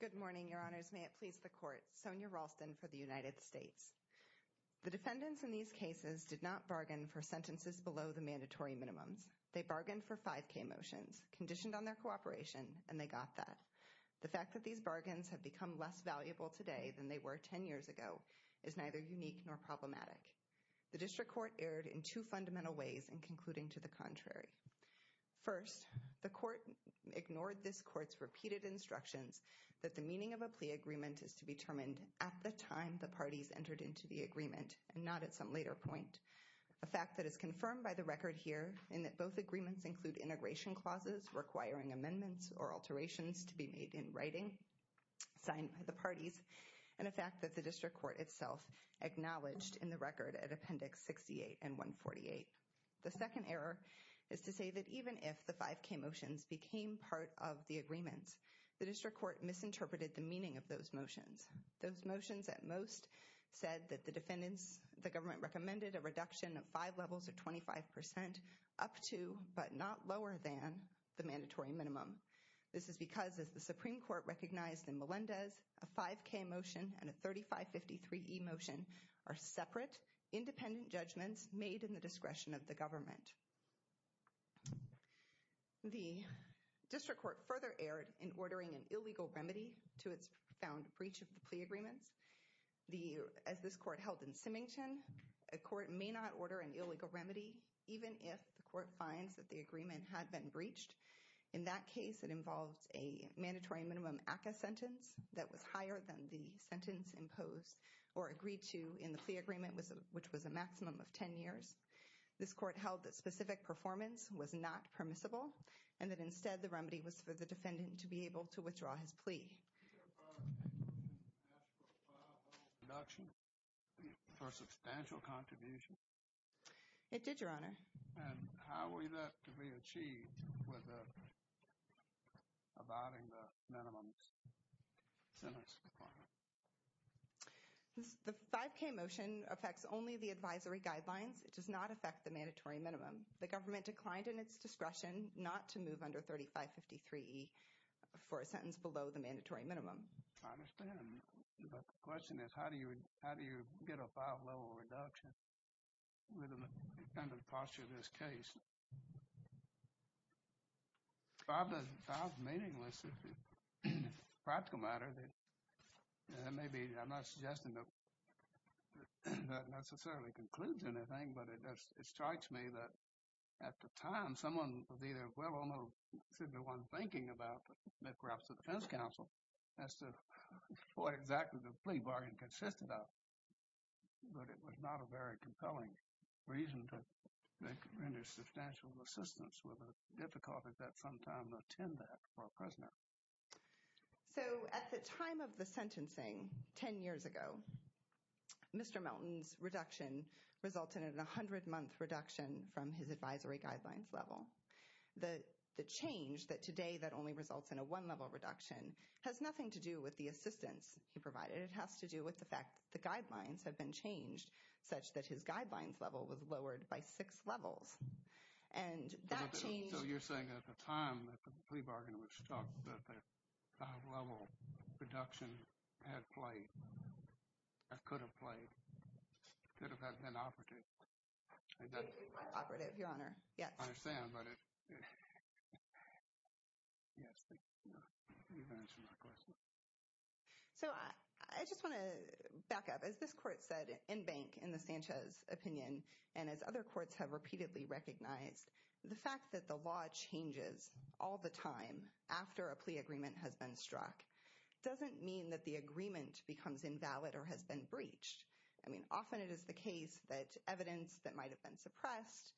Good morning, your honors. May it please the court. Sonya Ralston for the United States. The defendants in these cases did not bargain for sentences below the mandatory minimums. They bargained for 5k motions, conditioned on their cooperation, and they got that. The fact that these bargains have become less valuable today than they were 10 years ago is neither unique nor problematic. The district court erred in two fundamental ways in concluding to the contrary. First, the court ignored this court's repeated instructions that the meaning of a plea agreement is to be determined at the time the parties entered into the agreement and not at some later point. A fact that is confirmed by the record here in that both agreements include integration clauses requiring amendments or alterations to be made in writing, signed by the parties, and a fact that the district court itself acknowledged in the record at appendix 68 and 148. The second error is to say that even if the 5k motions became part of the agreements, the district court misinterpreted the meaning of those motions. Those motions at most said that the defendants, the government, recommended a reduction of five levels or 25% up to, but not lower than, the mandatory minimum. This is because, as the Supreme Court recognized in Melendez, a 5k motion and a 3553e motion are separate, independent judgments made in the discretion of the government. The district court further erred in ordering an illegal remedy to its found breach of the plea agreements. As this court held in Symington, a court may not order an illegal remedy even if the court finds that the agreement had been breached. In that case, it involved a mandatory minimum ACCA sentence that was higher than the sentence imposed or agreed to in the plea agreement, which was a maximum of 10 years. This court held that specific performance was not permissible, and that instead the remedy was for the defendant to be able to withdraw his plea. Did the court ask for a five-level reduction for substantial contribution? It did, Your Honor. And how were that to be achieved without abiding the minimum sentence requirement? The 5k motion affects only the advisory guidelines. It does not affect the mandatory minimum. The government declined in its discretion not to move under 3553e for a sentence below the mandatory minimum. I understand, but the question is how do you get a five-level reduction under the posture of this case? Five doesn't sound meaningless. It's a practical matter. That may be, I'm not suggesting that necessarily concludes anything, but it strikes me that at the time, someone was either well or no, simply one thinking about, perhaps the defense counsel, as to what exactly the plea bargain consisted of. But it was not a very compelling reason to render substantial assistance with a difficulty that sometimes attend that for a prisoner. So, at the time of the sentencing, 10 years ago, Mr. Melton's reduction resulted in a 100-month reduction from his advisory guidelines level. The change that today that only results in a one-level reduction has nothing to do with the assistance he provided. It has to do with the fact that the guidelines have been changed such that his guidelines level was lowered by six levels. And that change... So, you're saying at the time that the plea bargain was struck that the five-level reduction had played, could have played, could have been operative. Operative, Your Honor, yes. I understand, but it... Yes, thank you. You've answered my question. So, I just want to back up. As this court said in Bank, in the Sanchez opinion, and as other courts have repeatedly recognized, the fact that the law changes all the time after a plea agreement has been struck doesn't mean that the agreement becomes invalid or has been breached. I mean, often it is the case that evidence that might have been suppressed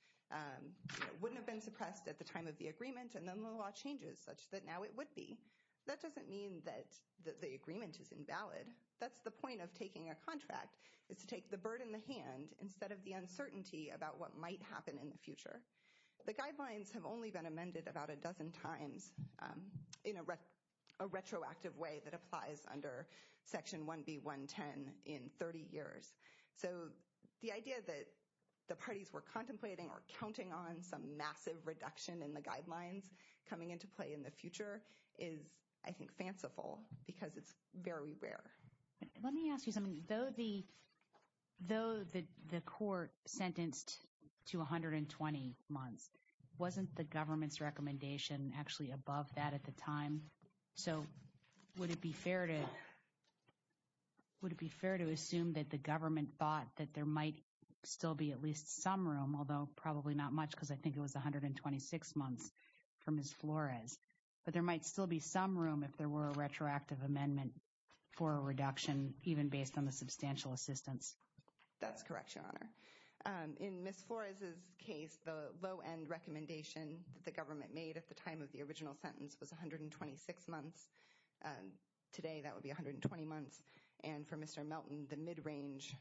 wouldn't have been suppressed at the time of the agreement, and then the law changes such that now it would be. That doesn't mean that the agreement is invalid. That's the point of taking a contract is to take the bird in the hand instead of the uncertainty about what might happen in the future. The guidelines have only been amended about a dozen times in a retroactive way that applies under Section 1B110 in 30 years. So, the idea that the parties were contemplating or counting on some massive reduction in the guidelines coming into play in the future is, I think, fanciful because it's very rare. Let me ask you something. Though the court sentenced to 120 months, wasn't the government's recommendation actually above that at the time? So, would it be fair to assume that the government thought that there might still be at least some room, although probably not much because I think it was 126 months for Ms. Flores, but there might still be some room if there were a retroactive amendment for a reduction even based on the substantial assistance? That's correct, Your Honor. In Ms. Flores' case, the low-end recommendation that the government made at the time of the original sentence was 126 months. Today, that would be 120 months. And for Mr. Melton, the mid-range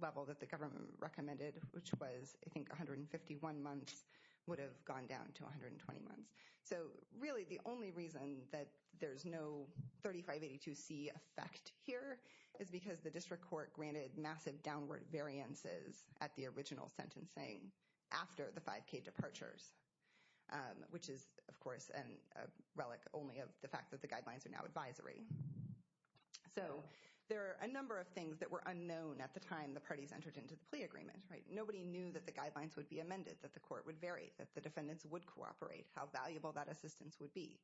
level that the government recommended, which was, I think, 151 months, would have gone down to 120 months. So really, the only reason that there's no 3582C effect here is because the district court granted massive downward variances at the original sentencing after the 5K departures, which is, of course, a relic only of the fact that the guidelines are now advisory. So there are a number of things that were unknown at the time the parties entered into the plea agreement. Nobody knew that the guidelines would be amended, that the court would vary, that the defendants would cooperate. How valuable that assistance would be.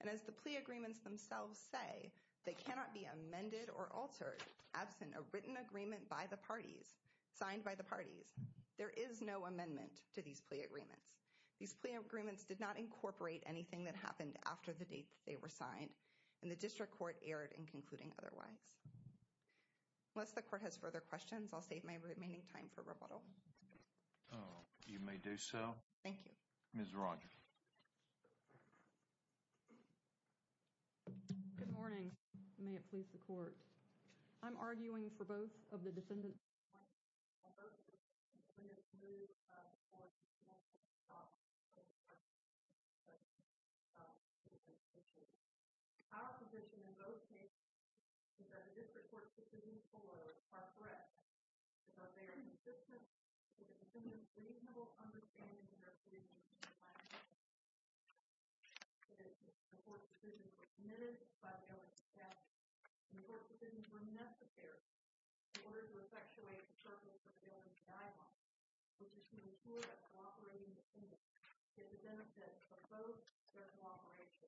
And as the plea agreements themselves say, they cannot be amended or altered absent a written agreement by the parties, signed by the parties. There is no amendment to these plea agreements. These plea agreements did not incorporate anything that happened after the date that they were signed, and the district court erred in concluding otherwise. Unless the court has further questions, I'll save my remaining time for rebuttal. You may do so. Thank you. Ms. Rodgers. Good morning. May it please the court. I'm arguing for both of the defendants. I'm arguing for both defendants. I'm agreeing with the move by the court to cancel the trial. I'm arguing for both defendants. I'm arguing for both defendants. Our position in both cases is that a district court decision for a threat is of varying assistance to the defendant's reasonable understanding of their plea. In the case of my case, the court's decision was admitted by the element of fact, and court decisions were necessary in order to effectuate the purpose of the element of denial, which is to ensure that cooperating defendants get the benefits from both their cooperation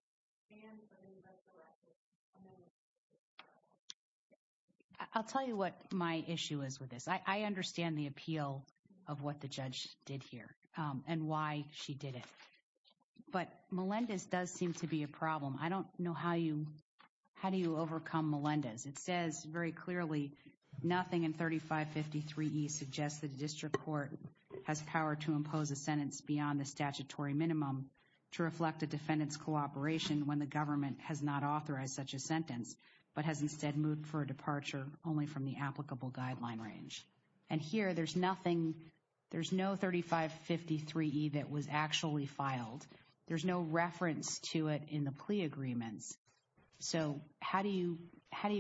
and from the resurrected amount of evidence they're entitled to. I'll tell you what my issue is with this. I understand the appeal of what the judge did here. And why she did it. But Melendez does seem to be a problem. I don't know how you overcome Melendez. It says very clearly, nothing in 3553E suggests that a district court has power to impose a sentence beyond the statutory minimum to reflect a defendant's cooperation when the government has not authorized such a sentence, but has instead moved for a departure only from the applicable guideline range. And here, there's nothing, there's no 3553E that was actually filed. There's no reference to it in the plea agreements. So how do you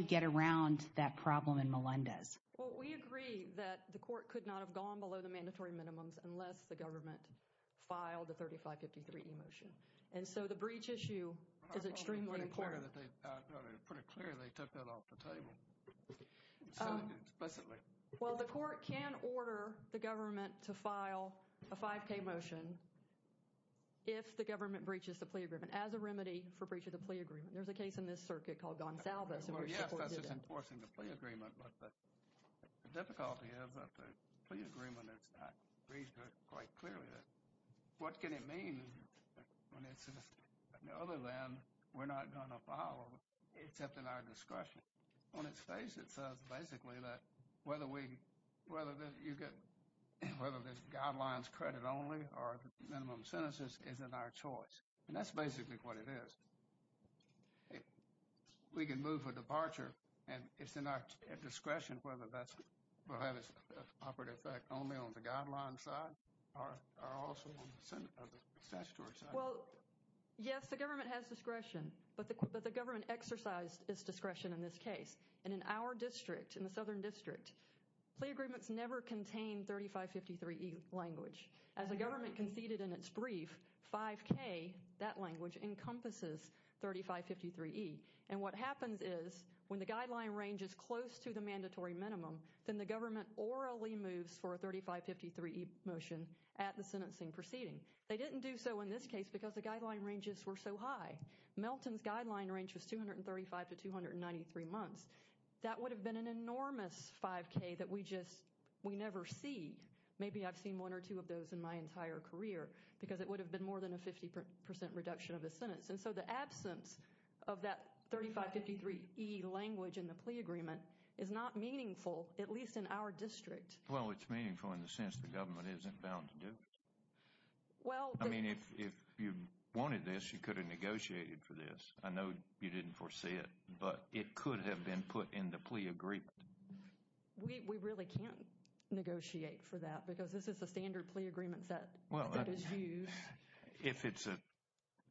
get around that problem in Melendez? Well, we agree that the court could not have gone below the mandatory minimums unless the government filed the 3553E motion. And so the breach issue is extremely important. It's clear that they, pretty clear they took that off the table. Said it explicitly. Well, the court can order the government to file a 5K motion if the government breaches the plea agreement as a remedy for breach of the plea agreement. There's a case in this circuit called Gonsalves. Well, yes, that's just enforcing the plea agreement. But the difficulty is that the plea agreement is not breached quite clearly. What can it mean when it says other than we're not going to file except in our discretion? On its face, it says basically that whether we, whether you get, whether there's guidelines credit only or minimum sentences is in our choice. And that's basically what it is. We can move for departure. And it's in our discretion whether that will have its operative effect only on the guideline side or also on the statutory side. Well, yes, the government has discretion. But the government exercised its discretion in this case. And in our district, in the Southern District, plea agreements never contain 3553E language. As the government conceded in its brief, 5K, that language, encompasses 3553E. And what happens is when the guideline range is close to the mandatory minimum, then the government orally moves for a 3553E motion at the sentencing proceeding. They didn't do so in this case because the guideline ranges were so high. Melton's guideline range was 235 to 293 months. That would have been an enormous 5K that we just, we never see. And maybe I've seen one or two of those in my entire career because it would have been more than a 50% reduction of a sentence. And so the absence of that 3553E language in the plea agreement is not meaningful, at least in our district. Well, it's meaningful in the sense the government isn't bound to do. Well, I mean, if you wanted this, you could have negotiated for this. I know you didn't foresee it, but it could have been put in the plea agreement. We really can't negotiate for that because this is the standard plea agreement that is used. If it's a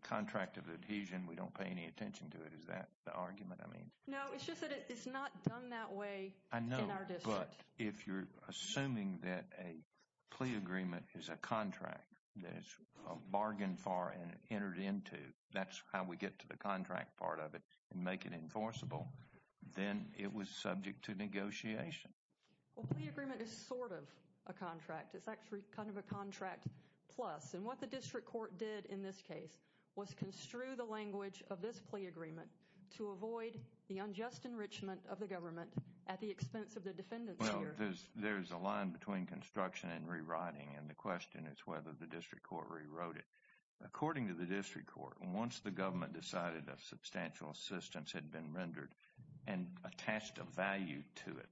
contract of adhesion, we don't pay any attention to it. Is that the argument I mean? No, it's just that it's not done that way in our district. I know, but if you're assuming that a plea agreement is a contract, there's a bargain for and entered into, that's how we get to the contract part of it and make it enforceable. Then it was subject to negotiation. Well, plea agreement is sort of a contract. It's actually kind of a contract plus. And what the district court did in this case was construe the language of this plea agreement to avoid the unjust enrichment of the government at the expense of the defendants here. Well, there's a line between construction and rewriting, and the question is whether the district court rewrote it. According to the district court, once the government decided that substantial assistance had been rendered and attached a value to it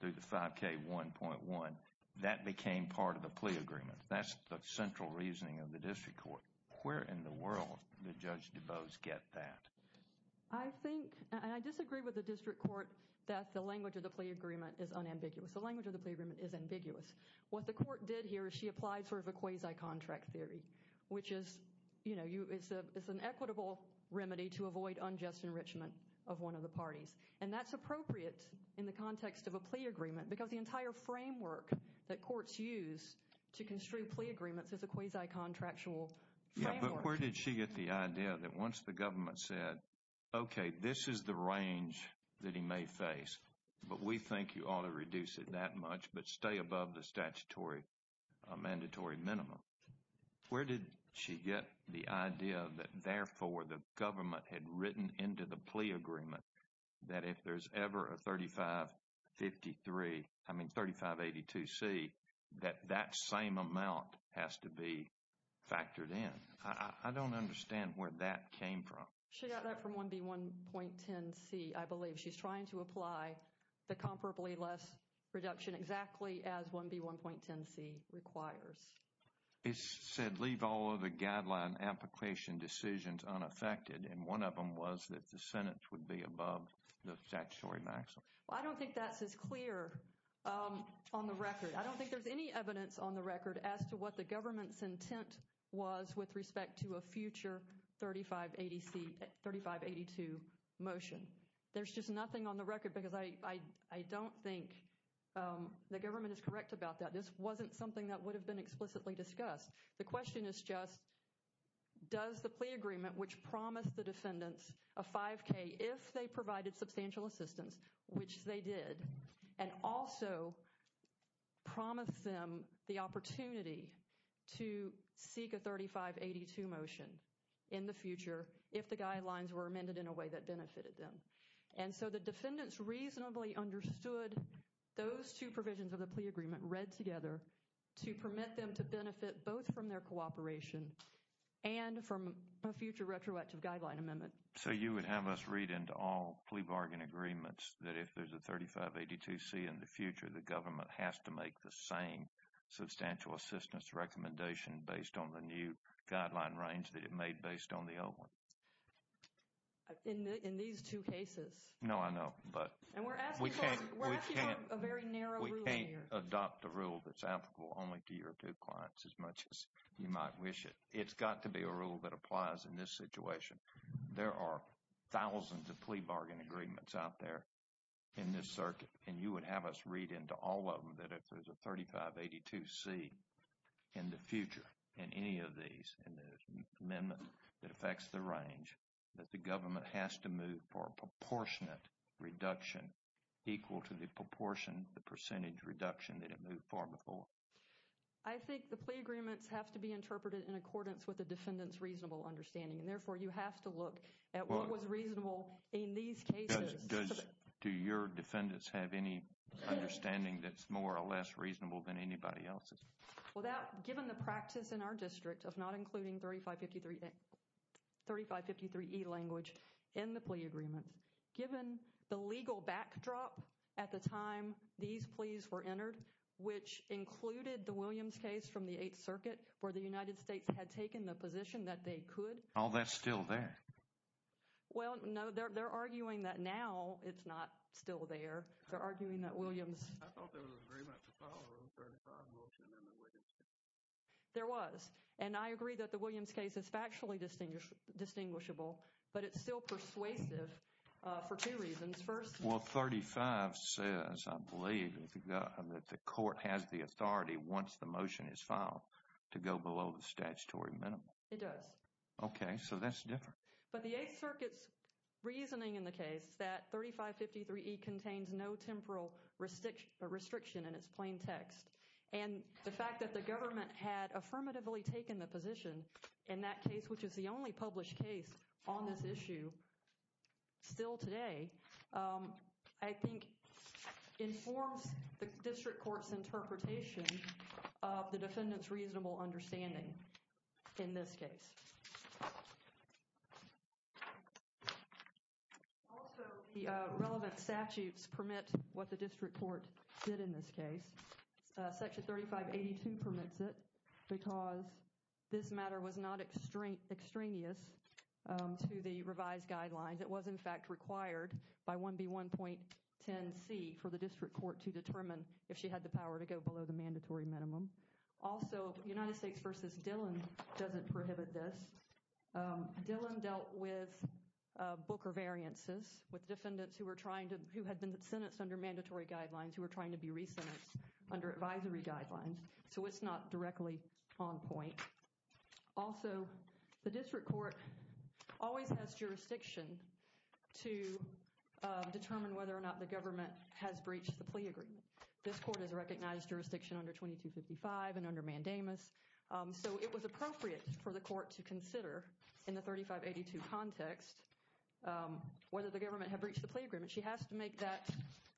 through the 5K1.1, that became part of the plea agreement. That's the central reasoning of the district court. Where in the world did Judge DuBose get that? I think, and I disagree with the district court, that the language of the plea agreement is unambiguous. The language of the plea agreement is ambiguous. What the court did here is she applied sort of a quasi-contract theory, which is, you know, it's an equitable remedy to avoid unjust enrichment of one of the parties. And that's appropriate in the context of a plea agreement because the entire framework that courts use to construe plea agreements is a quasi-contractual framework. Yeah, but where did she get the idea that once the government said, okay, this is the range that he may face, but we think you ought to reduce it that much but stay above the statutory mandatory minimum. Where did she get the idea that therefore the government had written into the plea agreement that if there's ever a 3553, I mean 3582C, that that same amount has to be factored in? I don't understand where that came from. She got that from 1B1.10C, I believe. She's trying to apply the comparably less reduction exactly as 1B1.10C requires. It said leave all of the guideline application decisions unaffected. And one of them was that the sentence would be above the statutory maximum. Well, I don't think that's as clear on the record. I don't think there's any evidence on the record as to what the government's intent was with respect to a future 3580C, 3582 motion. There's just nothing on the record because I don't think the government is correct about that. This wasn't something that would have been explicitly discussed. The question is just does the plea agreement, which promised the defendants a 5K, if they provided substantial assistance, which they did, and also promised them the opportunity to seek a 3582 motion in the future if the guidelines were amended in a way that benefited them. And so the defendants reasonably understood those two provisions of the plea agreement read together to permit them to benefit both from their cooperation and from a future retroactive guideline amendment. So you would have us read into all plea bargain agreements that if there's a 3582C in the future, the government has to make the same substantial assistance recommendation based on the new guideline range that it made based on the old one. In these two cases? No, I know. And we're asking for a very narrow rule here. We can't adopt a rule that's applicable only to your two clients as much as you might wish it. It's got to be a rule that applies in this situation. There are thousands of plea bargain agreements out there in this circuit, and you would have us read into all of them that if there's a 3582C in the future, in any of these, in the amendment that affects the range, that the government has to move for a proportionate reduction equal to the proportion, the percentage reduction that it moved for before. I think the plea agreements have to be interpreted in accordance with the defendant's reasonable understanding, and therefore you have to look at what was reasonable in these cases. Do your defendants have any understanding that's more or less reasonable than anybody else's? Well, given the practice in our district of not including 3553E language in the plea agreements, given the legal backdrop at the time these pleas were entered, which included the Williams case from the Eighth Circuit, where the United States had taken the position that they could. All that's still there. Well, no, they're arguing that now it's not still there. They're arguing that Williams. I thought there was an agreement to follow the 35 motion in the Williams case. There was, and I agree that the Williams case is factually distinguishable, but it's still persuasive for two reasons. First. Well, 35 says, I believe, that the court has the authority once the motion is filed to go below the statutory minimum. It does. Okay, so that's different. But the Eighth Circuit's reasoning in the case that 3553E contains no temporal restriction in its plain text, and the fact that the government had affirmatively taken the position in that case, which is the only published case on this issue still today, I think informs the district court's interpretation of the defendant's reasonable understanding in this case. Also, the relevant statutes permit what the district court did in this case. Section 3582 permits it because this matter was not extraneous to the revised guidelines. It was, in fact, required by 1B1.10C for the district court to determine if she had the power to go below the mandatory minimum. Also, United States v. Dillon doesn't prohibit this. Dillon dealt with Booker variances, with defendants who had been sentenced under mandatory guidelines, who were trying to be re-sentenced under advisory guidelines, so it's not directly on point. Also, the district court always has jurisdiction to determine whether or not the government has breached the plea agreement. This court has recognized jurisdiction under 2255 and under mandamus, so it was appropriate for the court to consider in the 3582 context whether the government had breached the plea agreement. She has to make that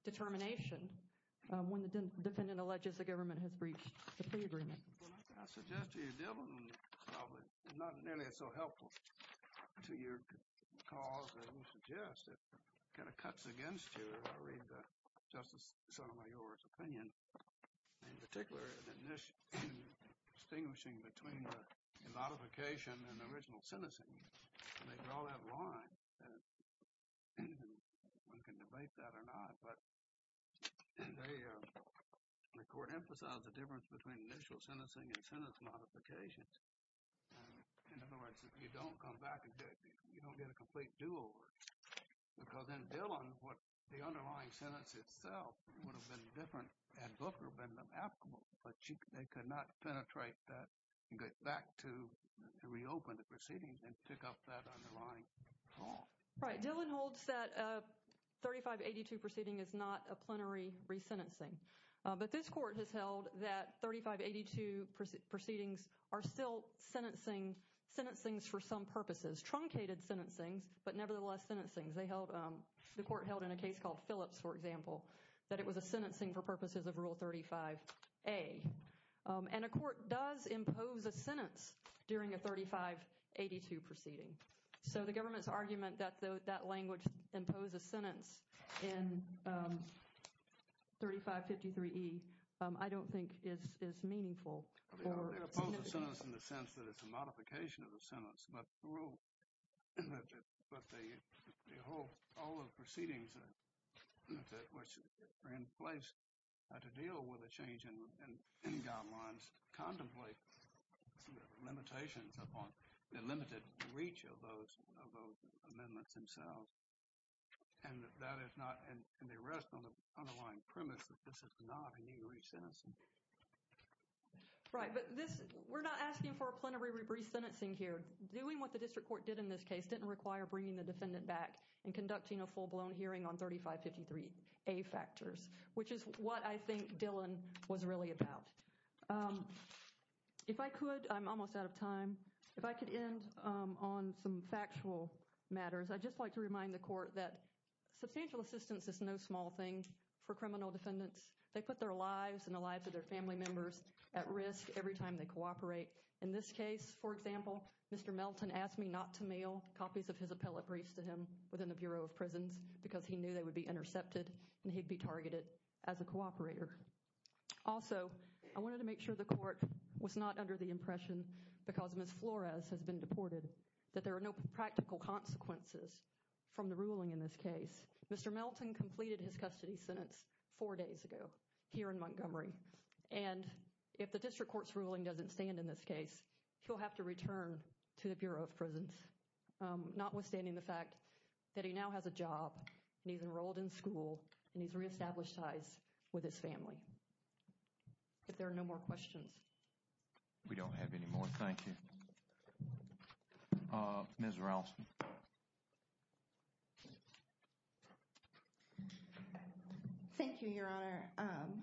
determination when the defendant alleges the government has breached the plea agreement. Well, I suggest to you, Dillon, probably not nearly so helpful to your cause as you suggest. It kind of cuts against you. I read Justice Sotomayor's opinion, in particular, distinguishing between the modification and the original sentencing. They draw that line, and one can debate that or not, but the court emphasized the difference between initial sentencing and sentence modifications. In other words, if you don't come back and do it, you don't get a complete do-over. Because in Dillon, the underlying sentence itself would have been different, and Booker would have been applicable, but they could not penetrate that and get back to reopen the proceedings and pick up that underlying fault. Right. Dillon holds that a 3582 proceeding is not a plenary resentencing, but this court has held that 3582 proceedings are still sentencing for some purposes, truncated sentencing, but nevertheless sentencing. The court held in a case called Phillips, for example, that it was a sentencing for purposes of Rule 35A, and a court does impose a sentence during a 3582 proceeding. So the government's argument that that language imposes a sentence in 3553E, I don't think is meaningful. They impose a sentence in the sense that it's a modification of a sentence, but the whole, all the proceedings that were in place to deal with a change in guidelines contemplate limitations upon the limited reach of those amendments themselves. And that is not, and they rest on the underlying premise that this is not a new resentencing. Right, but this, we're not asking for a plenary resentencing here. Doing what the district court did in this case didn't require bringing the defendant back and conducting a full-blown hearing on 3553A factors, which is what I think Dillon was really about. If I could, I'm almost out of time. If I could end on some factual matters, I'd just like to remind the court that substantial assistance is no small thing for criminal defendants. They put their lives and the lives of their family members at risk every time they cooperate. In this case, for example, Mr. Melton asked me not to mail copies of his appellate briefs to him within the Bureau of Prisons because he knew they would be intercepted and he'd be targeted as a cooperator. Also, I wanted to make sure the court was not under the impression, because Ms. Flores has been deported, that there are no practical consequences from the ruling in this case. Mr. Melton completed his custody sentence four days ago here in Montgomery, and if the district court's ruling doesn't stand in this case, he'll have to return to the Bureau of Prisons, notwithstanding the fact that he now has a job and he's enrolled in school and he's reestablished ties with his family. If there are no more questions. We don't have any more. Thank you. Ms. Ralston. Thank you, Your Honor.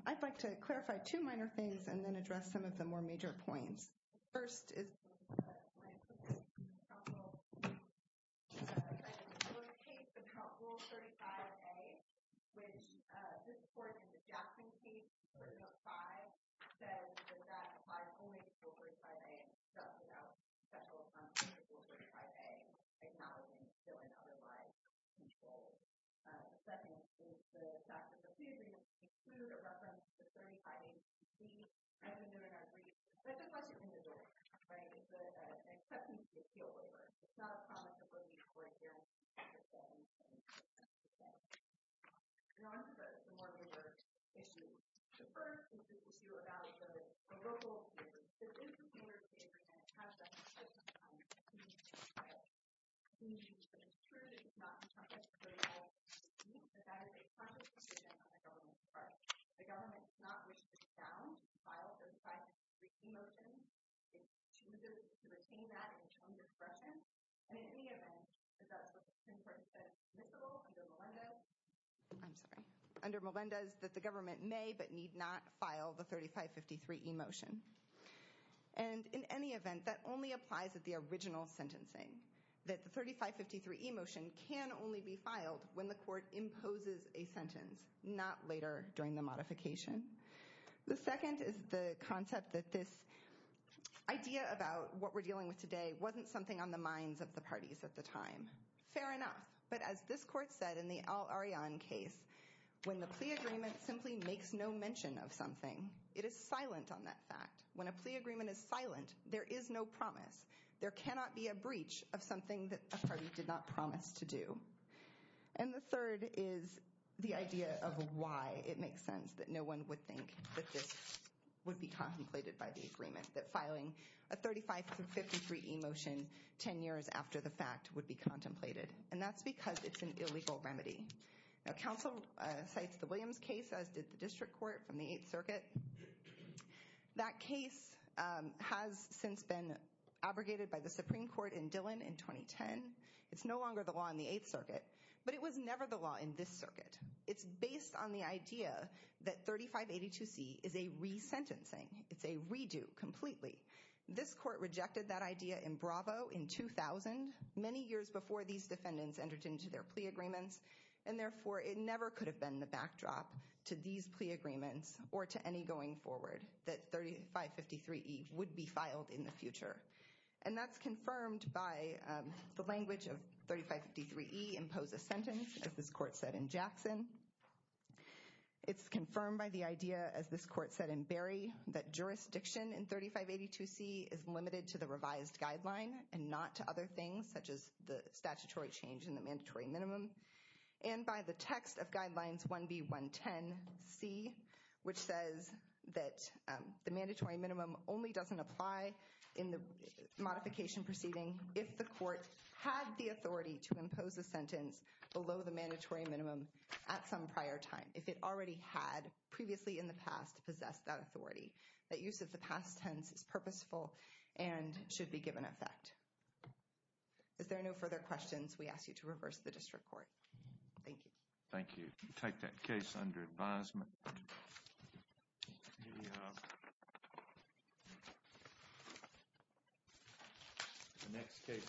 I'd like to clarify two minor things and then address some of the more major points. The first is... Right, it's an acceptance appeal waiver. It's not a promise that we're going to work here and protect them. And on to the more major issues. The first is the issue about the verbal abuse. There have been some other cases and it has been the case in the past. It's been used in the past. It's been used to assure that it's not in the context of a verbal abuse, and that it is part of the decision on the government's part. The government does not wish to discount, to file the 3553E motion. It chooses to retain that in its own discretion. And in any event, that's what the Supreme Court said is permissible under Melendez. I'm sorry. Under Melendez, that the government may but need not file the 3553E motion. And in any event, that only applies at the original sentencing. That the 3553E motion can only be filed when the court imposes a sentence, not later during the modification. The second is the concept that this idea about what we're dealing with today wasn't something on the minds of the parties at the time. Fair enough. But as this court said in the Al-Aryan case, when the plea agreement simply makes no mention of something, it is silent on that fact. When a plea agreement is silent, there is no promise. There cannot be a breach of something that a party did not promise to do. And the third is the idea of why it makes sense that no one would think that this would be contemplated by the agreement. That filing a 3553E motion 10 years after the fact would be contemplated. And that's because it's an illegal remedy. Now, counsel cites the Williams case, as did the district court from the 8th Circuit. That case has since been abrogated by the Supreme Court in Dillon in 2010. It's no longer the law in the 8th Circuit. But it was never the law in this circuit. It's based on the idea that 3582C is a resentencing. It's a redo completely. This court rejected that idea in Bravo in 2000, many years before these defendants entered into their plea agreements. And therefore, it never could have been the backdrop to these plea agreements And that's confirmed by the language of 3553E, impose a sentence, as this court said in Jackson. It's confirmed by the idea, as this court said in Berry, that jurisdiction in 3582C is limited to the revised guideline and not to other things such as the statutory change in the mandatory minimum. And by the text of guidelines 1B110C, which says that the mandatory minimum only doesn't apply in the modification proceeding if the court had the authority to impose a sentence below the mandatory minimum at some prior time, if it already had previously in the past possessed that authority. That use of the past tense is purposeful and should be given effect. If there are no further questions, we ask you to reverse the district court. Thank you. Thank you. Take that case under advisement.